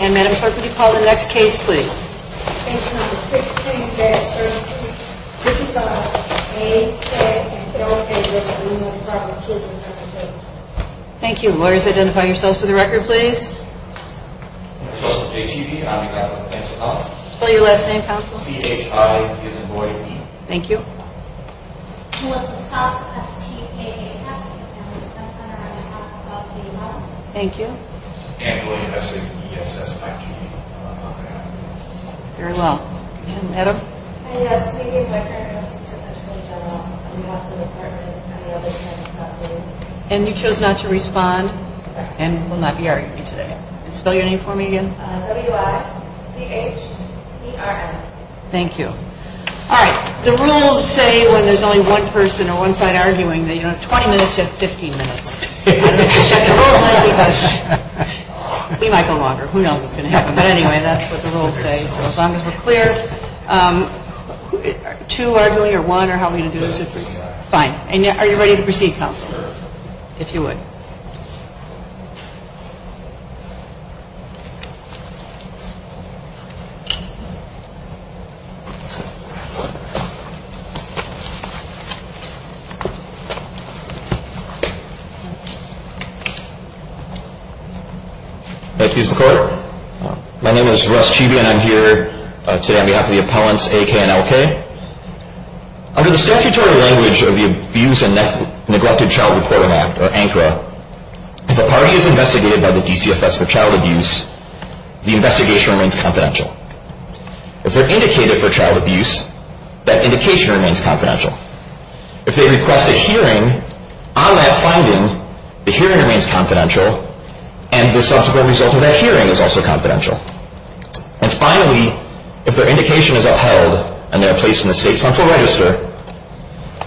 And, Madam Clerk, would you call the next case, please? Case number 16-13, which is on A.K. v. Illinois Department of Children & Family Services. Thank you. Lawyers, identify yourselves for the record, please. My name is Joseph J. Cheevee. I'm a doctor with the Penn State Council. Spell your last name, counsel. C-H-I-E-S-E-N-D-O-Y-E. Thank you. Melissa Stoss, S-T-A-N-S, from the Family Defense Center. I'm a counsel for all community modelers. Thank you. Ann Boyle, S-A-B-E-S-S-I-G-E. Very well. And, Madam? Hi, yes. My name is Ann Boyle. I'm the Assistant Attorney General on behalf of the Department and the other family properties. And you chose not to respond and will not be arguing today. And spell your name for me again. W-I-C-H-E-R-N. Thank you. All right. The rules say when there's only one person or one side arguing that you don't have 20 minutes, you have 15 minutes. We might go longer. Who knows what's going to happen. But anyway, that's what the rules say. So as long as we're clear, two arguing or one, or how are we going to do this? Fine. And are you ready to proceed, counsel, if you would? Thank you, Mr. Court. My name is Russ Chibi, and I'm here today on behalf of the appellants, A-K and L-K. Under the statutory language of the Abuse and Neglected Child Reporter Act, or ANCRA, if a party is investigated by the DCFS for child abuse, the investigation remains confidential. If they're indicated for child abuse, that indication remains confidential. If they request a hearing on that finding, the hearing remains confidential, and the subsequent result of that hearing is also confidential. And finally, if their indication is upheld and they're placed in the state central register,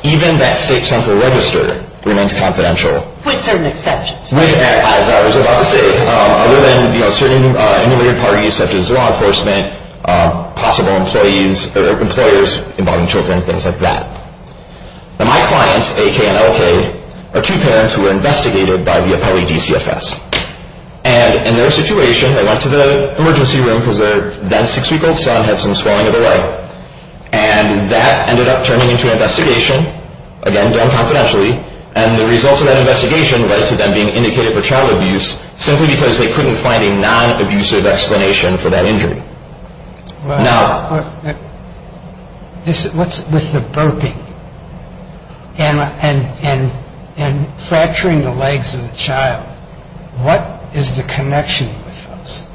even that state central register remains confidential. With certain exceptions. With, as I was about to say. Other than, you know, certain enumerated parties, such as law enforcement, possible employees or employers involving children, things like that. Now, my clients, A-K and L-K, are two parents who were investigated by the appellee DCFS. And in their situation, they went to the emergency room because their then six-week-old son had some swelling of the leg. And that ended up turning into an investigation, again, done confidentially. And the results of that investigation led to them being indicated for child abuse simply because they couldn't find a non-abusive explanation for that injury. Now. What's with the burping and fracturing the legs of the child? What is the connection with those?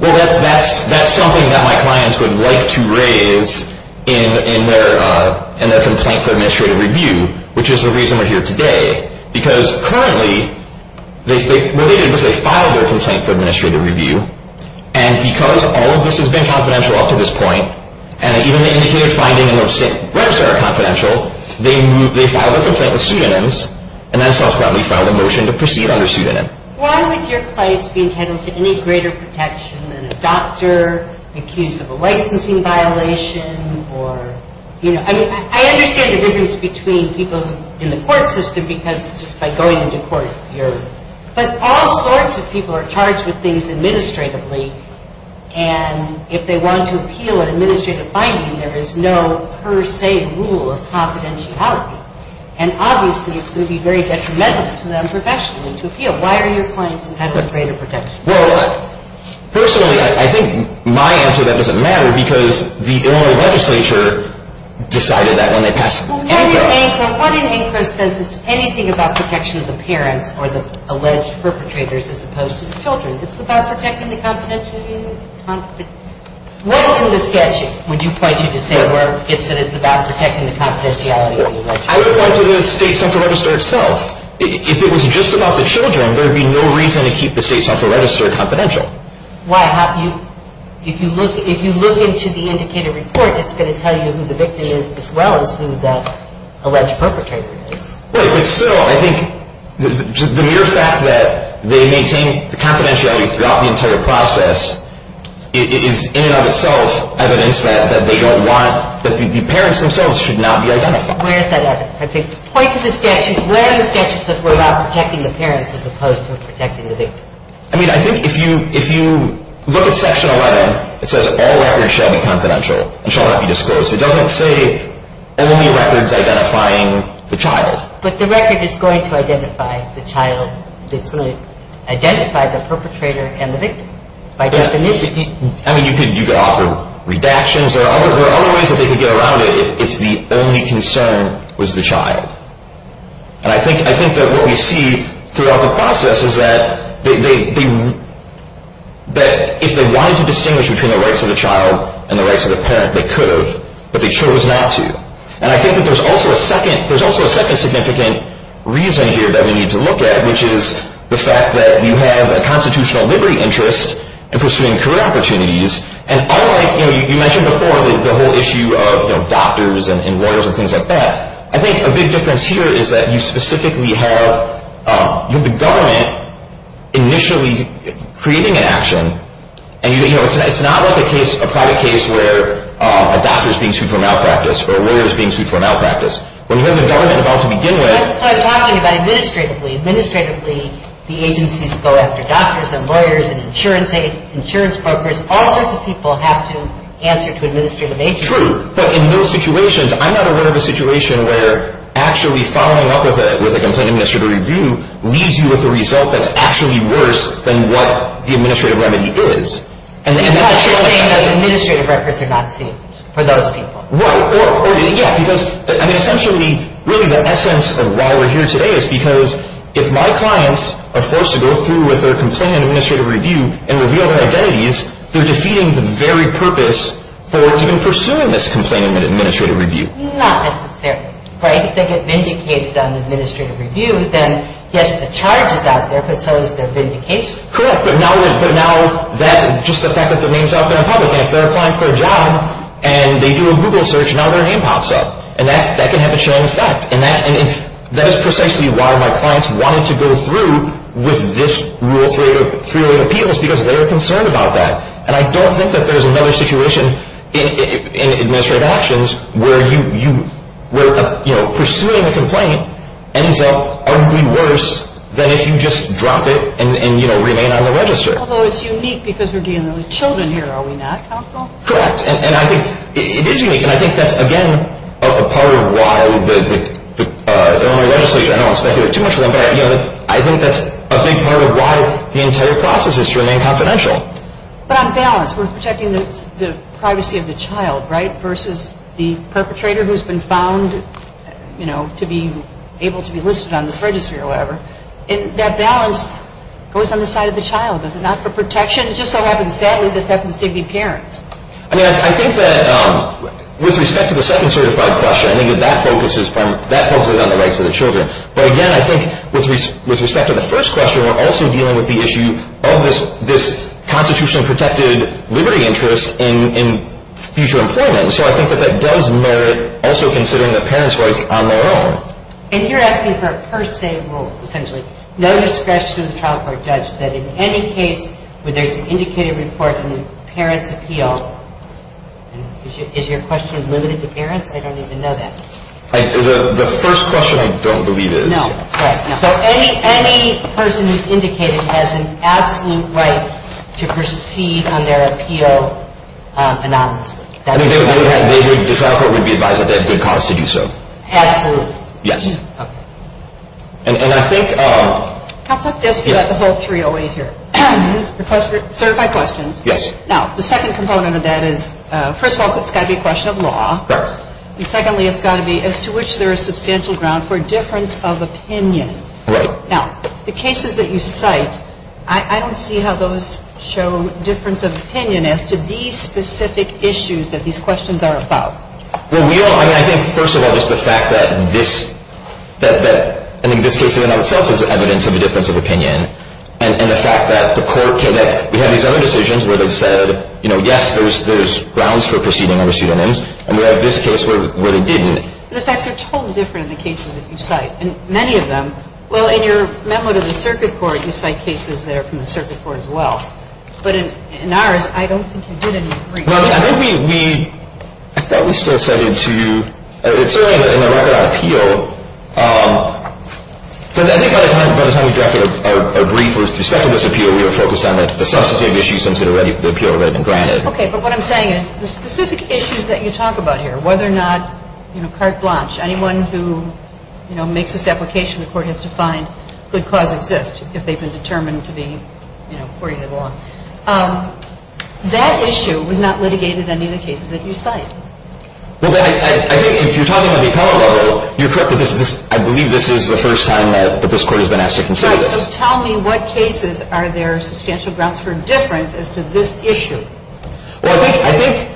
Well, that's something that my clients would like to raise in their complaint for administrative review, which is the reason we're here today. Because currently, related to this, they filed their complaint for administrative review. And because all of this has been confidential up to this point, and even the indicated finding in the website are confidential, they filed their complaint with pseudonyms and then self-properly filed a motion to proceed under pseudonym. Why would your clients be entitled to any greater protection than a doctor accused of a licensing violation or, you know? I mean, I understand the difference between people in the court system because just by going into court, you're... But all sorts of people are charged with things administratively. And if they want to appeal an administrative finding, there is no per se rule of confidentiality. And obviously, it's going to be very detrimental to them professionally to appeal. Why are your clients entitled to greater protection? Well, personally, I think my answer to that doesn't matter because the Illinois legislature decided that when they passed... Well, what in Anchor says it's anything about protection of the parents or the alleged perpetrators as opposed to the children? It's about protecting the confidentiality... What in the statute would you point to to say it's about protecting the confidentiality of the legislature? I would point to the state central register itself. If it was just about the children, there would be no reason to keep the state central register confidential. Why have you... If you look into the indicated report, it's going to tell you who the victim is as well as who the alleged perpetrator is. Right, but still, I think the mere fact that they maintain the confidentiality throughout the entire process is in and of itself evidence that they don't want... That the parents themselves should not be identified. Where is that evidence? I'd say point to the statute. Where in the statute says we're about protecting the parents as opposed to protecting the victim? I mean, I think if you look at section 11, it says all records shall be confidential and shall not be disclosed. It doesn't say only records identifying the child. But the record is going to identify the child. It's going to identify the perpetrator and the victim by definition. I mean, you could offer redactions. There are other ways that they could get around it if the only concern was the child. And I think that what we see throughout the process is that if they wanted to distinguish between the rights of the child and the rights of the parent, they could have, but they chose not to. And I think that there's also a second significant reason here that we need to look at, which is the fact that you have a constitutional liberty interest in pursuing career opportunities. And unlike... You mentioned before the whole issue of doctors and lawyers and things like that. I think a big difference here is that you specifically have the government initially creating an action, and it's not like a private case where a doctor is being sued for malpractice or a lawyer is being sued for malpractice. When you have the government involved to begin with... That's what I'm talking about administratively. Administratively, the agencies go after doctors and lawyers and insurance brokers. All sorts of people have to answer to administrative agents. True. But in those situations, I'm not aware of a situation where actually following up with a complaint administrative review leaves you with a result that's actually worse than what the administrative remedy is. And that's what you're saying is administrative records are not seen for those people. Right. Yeah, because, I mean, essentially, really the essence of why we're here today is because if my clients are forced to go through with a complaint administrative review and reveal their identities, they're defeating the very purpose for even pursuing this complaint administrative review. Not necessarily. Right? If they get vindicated on administrative review, then, yes, the charge is out there, but so is their vindication. Correct. But now just the fact that their name is out there in public, and if they're applying for a job and they do a Google search, now their name pops up. And that can have a chilling effect. And that is precisely why my clients wanted to go through with this rule of three-way appeals was because they were concerned about that. And I don't think that there's another situation in administrative actions where pursuing a complaint ends up ugly worse than if you just drop it and remain on the register. Although it's unique because we're dealing with children here, are we not, counsel? Correct. And I think it is unique, and I think that's, again, a part of why the legislature, but I think that's a big part of why the entire process is to remain confidential. But on balance, we're protecting the privacy of the child, right, versus the perpetrator who's been found, you know, to be able to be listed on this register or whatever. And that balance goes on the side of the child. Is it not for protection? It just so happens, sadly, this happens to be parents. I mean, I think that with respect to the second certified question, I think that that focuses on the rights of the children. But, again, I think with respect to the first question, we're also dealing with the issue of this constitutionally protected liberty interest in future employment. So I think that that does merit also considering the parents' rights on their own. And you're asking for a per se rule, essentially, no discretion of the child court judge, that in any case where there's an indicated report in the parents' appeal, Is your question limited to parents? I don't even know that. The first question I don't believe is. No. So any person who's indicated has an absolute right to proceed on their appeal anonymously. I mean, the child court would be advised that they have good cause to do so. Absolutely. Yes. Okay. And I think... Cops have to ask you about the whole 308 here. Use certified questions. Yes. Now, the second component of that is, first of all, it's got to be a question of law. Correct. And secondly, it's got to be as to which there is substantial ground for difference of opinion. Right. Now, the cases that you cite, I don't see how those show difference of opinion as to these specific issues that these questions are about. Well, we don't... I mean, I think, first of all, just the fact that this... I think this case in and of itself is evidence of a difference of opinion. And the fact that the court can... We have these other decisions where they've said, you know, yes, there's grounds for proceeding over pseudonyms. And we have this case where they didn't. The facts are totally different in the cases that you cite. And many of them... Well, in your memo to the circuit court, you cite cases that are from the circuit court as well. But in ours, I don't think you did any... Well, I think we... I thought we still set it to... It's certainly in the record on appeal. So I think by the time we drafted a brief with respect to this appeal, we were focused on the substantive issues since the appeal had already been granted. Okay. But what I'm saying is the specific issues that you talk about here, whether or not, you know, carte blanche, anyone who, you know, makes this application, the court has to find good cause exists if they've been determined to be, you know, according to the law. That issue was not litigated in any of the cases that you cite. Well, I think if you're talking about the appellate level, you're correct that this is... I believe this is the first time that this court has been asked to consider this. Right. So tell me what cases are there substantial grounds for difference as to this issue? Well, I think... I think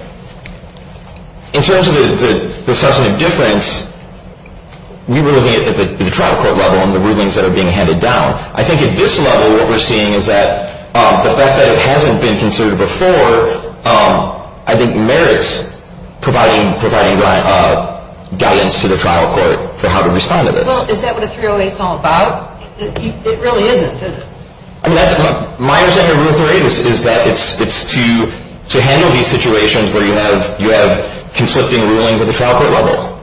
in terms of the substantive difference, we were looking at the trial court level and the rulings that are being handed down. I think at this level, what we're seeing is that the fact that it hasn't been considered before, I think merits providing guidance to the trial court for how to respond to this. Well, is that what a 308 is all about? It really isn't, is it? I mean, my understanding of Rule 308 is that it's to handle these situations where you have conflicting rulings at the trial court level.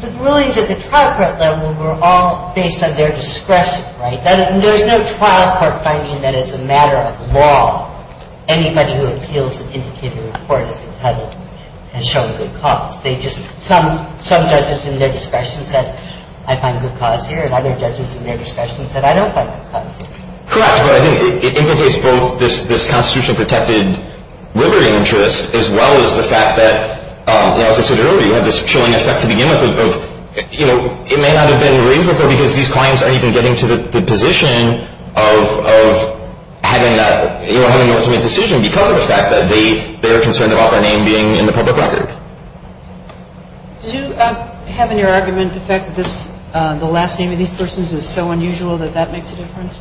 The rulings at the trial court level were all based on their discretion, right? There's no trial court finding that as a matter of law, anybody who appeals an indicated report as entitled has shown good cause. Some judges in their discretion said, I find good cause here, and other judges in their discretion said, I don't find good cause here. Correct, but I think it implicates both this constitutionally protected liberty interest as well as the fact that, as I said earlier, you have this chilling effect to begin with of it may not have been raised with her because these clients aren't even getting to the position of having that ultimate decision because of the fact that they're concerned about their name being in the public record. Do you have in your argument the fact that the last name of these persons is so unusual that that makes a difference?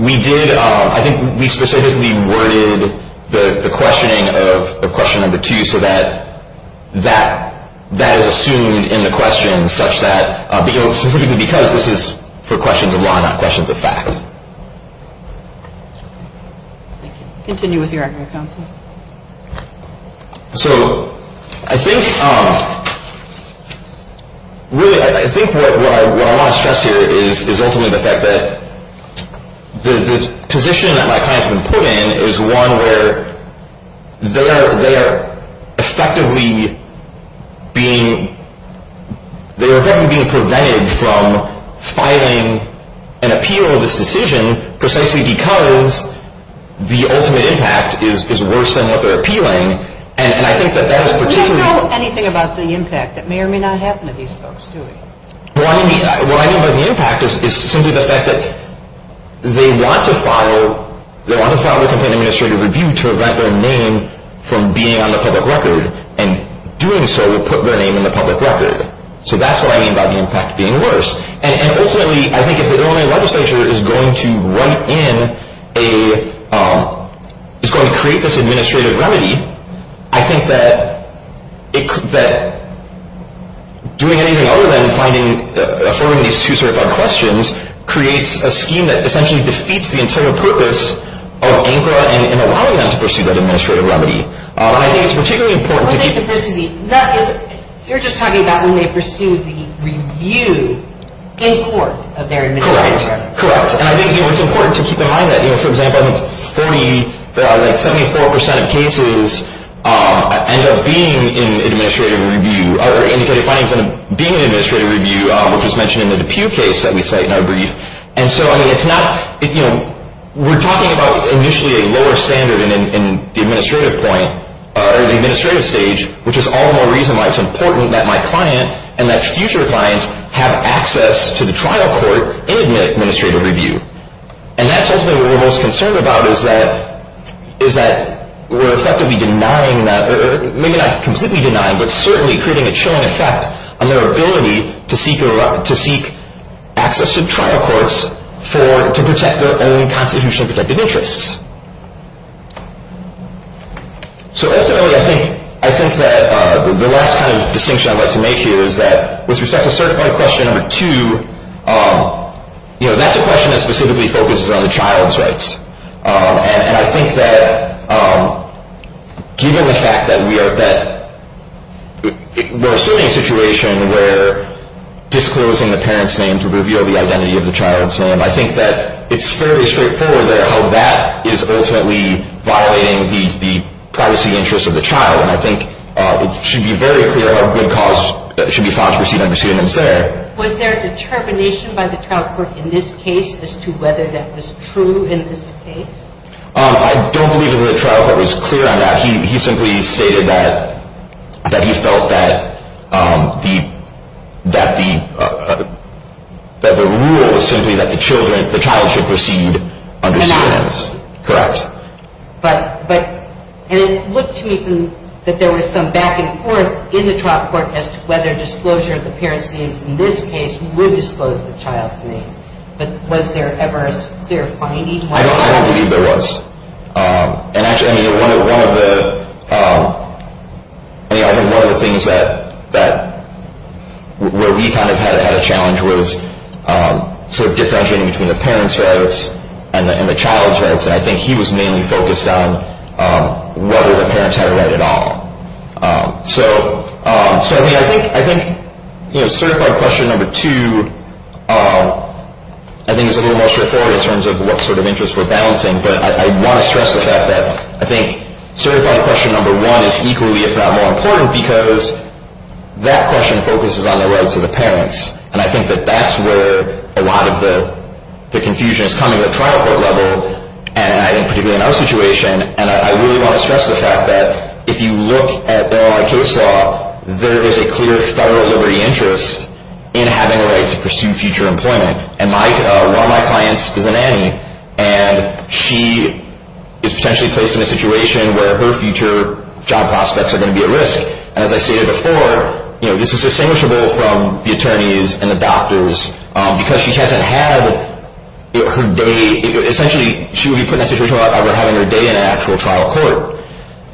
We did. I think we specifically worded the questioning of question number two so that that is assumed in the question such that, specifically because this is for questions of law, not questions of fact. Continue with your argument, counsel. So I think, really, I think what I want to stress here is ultimately the fact that the position that my client has been put in is one where they are effectively being, they are effectively being prevented from filing an appeal of this decision precisely because the ultimate impact is worse than what they're appealing, and I think that that is particularly... We don't know anything about the impact. It may or may not happen to these folks, do we? What I mean by the impact is simply the fact that they want to file, they want to file the complaint administrative review to prevent their name from being on the public record, and doing so will put their name in the public record. So that's what I mean by the impact being worse. And ultimately, I think if the Illinois legislature is going to write in a, is going to create this administrative remedy, I think that doing anything other than finding, affirming these two sort of questions creates a scheme that essentially defeats the entire purpose of ANCRA in allowing them to pursue that administrative remedy. I think it's particularly important to keep... You're just talking about when they pursue the review in court of their administrative remedy. Correct, correct. And I think it's important to keep in mind that, you know, for example, 74% of cases end up being in administrative review, or indicated findings end up being in administrative review, which was mentioned in the DePue case that we cite in our brief. And so, I mean, it's not, you know, we're talking about initially a lower standard in the administrative point, or the administrative stage, which is all the more reason why it's important that my client and that future clients have access to the trial court in administrative review. And that's ultimately what we're most concerned about, is that we're effectively denying that, or maybe not completely denying, but certainly creating a chilling effect on their ability to seek access to trial courts to protect their own constitutionally protected interests. So ultimately, I think that the last kind of distinction I'd like to make here is that with respect to Certified Question No. 2, you know, that's a question that specifically focuses on the child's rights. And I think that given the fact that we are, that we're assuming a situation where disclosing the parent's name to reveal the identity of the child's name, I think that it's fairly straightforward there how that is ultimately violating the privacy interests of the child. And I think it should be very clear what good cause should be found to proceed under Certified Question No. 2. Was there determination by the trial court in this case as to whether that was true in this case? I don't believe the trial court was clear on that. He simply stated that he felt that the rule was simply that the child should proceed under standards. Correct. And it looked to me that there was some back and forth in the trial court as to whether disclosure of the parent's name in this case would disclose the child's name. But was there ever a clear finding? I don't believe there was. And actually, I mean, one of the things that, where we kind of had a challenge was sort of differentiating between the parent's rights and the child's rights. And I think he was mainly focused on whether the parents had a right at all. So I think Certified Question No. 2, I think, is a little more straightforward in terms of what sort of interests we're balancing. But I want to stress the fact that I think Certified Question No. 1 is equally, if not more important, because that question focuses on the rights of the parents. And I think that that's where a lot of the confusion is coming at the trial court level, and I think particularly in our situation. And I really want to stress the fact that if you look at the case law, there is a clear federal liberty interest in having a right to pursue future employment. And one of my clients is a nanny, and she is potentially placed in a situation where her future job prospects are going to be at risk. And as I stated before, this is distinguishable from the attorneys and the doctors because she hasn't had her day. Essentially, she would be put in that situation without ever having her day in an actual trial court.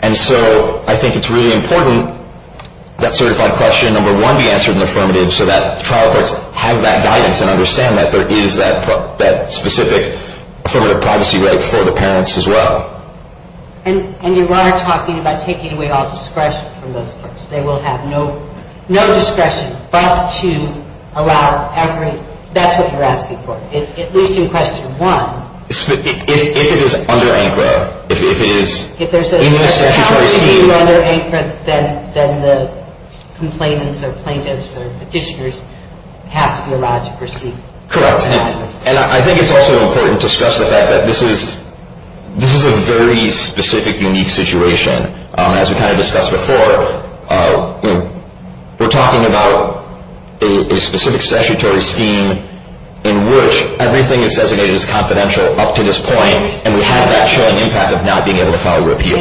And so I think it's really important that Certified Question No. 1 be answered in the affirmative so that the trial courts have that guidance and understand that there is that specific affirmative privacy right for the parents as well. And you are talking about taking away all discretion from those courts. They will have no discretion but to allow every – that's what you're asking for, at least in Question No. 1. If it is under ANCRA, if it is in the statutory scheme. If there's an opportunity to be under ANCRA, then the complainants or plaintiffs or petitioners have to be allowed to proceed. Correct. And I think it's also important to stress the fact that this is a very specific, unique situation. As we kind of discussed before, we're talking about a specific statutory scheme in which everything is designated as confidential up to this point and we have that showing impact of not being able to file a repeal. I understand.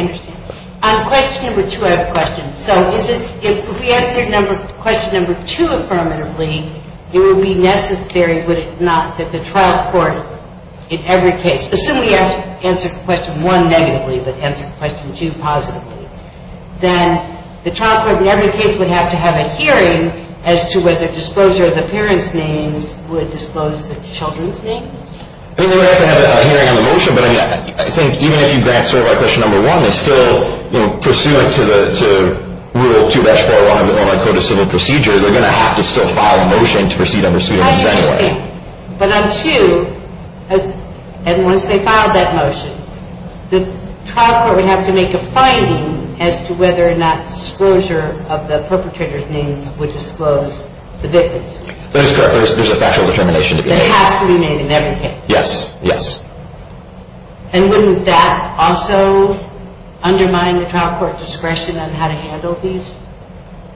On Question No. 2, I have a question. So if we answer Question No. 2 affirmatively, it would be necessary, would it not, that the trial court in every case – assume we answer Question 1 negatively but answer Question 2 positively – then the trial court in every case would have to have a hearing as to whether disclosure of the parents' names would disclose the children's names? They would have to have a hearing on the motion, but I think even if you grant sort of like Question No. 1, they're still pursuant to Rule 2-4 on our Code of Civil Procedures, they're going to have to still file a motion to proceed on Pursuit of Names anyway. I understand. But on 2, and once they file that motion, the trial court would have to make a finding as to whether or not disclosure of the perpetrator's names would disclose the victims' names. That is correct. There's a factual determination to be made. That has to be made in every case. Yes. Yes. And wouldn't that also undermine the trial court discretion on how to handle these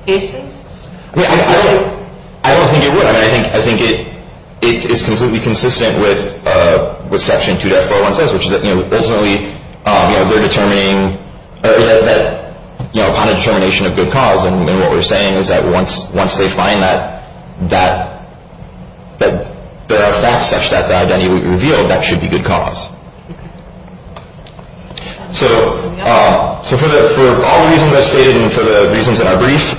cases? I don't think it would. I mean, I think it is completely consistent with what Section 2-401 says, which is that ultimately they're determining – upon the determination of good cause, and what we're saying is that once they find that there are facts such that the identity would be revealed, that should be good cause. So for all the reasons I've stated and for the reasons in our brief,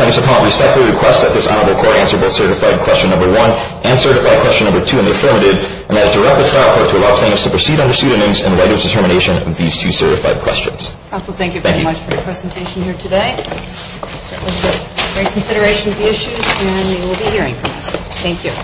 plaintiffs' appellant respectfully requests that this honorable court answer both certified question number one and certified question number two in the affirmative, and that it direct the trial court to allow plaintiffs to proceed on Pursuit of Names and write its determination of these two certified questions. Counsel, thank you very much for your presentation here today. We'll certainly take great consideration of the issues, and we will be hearing from us. Thank you.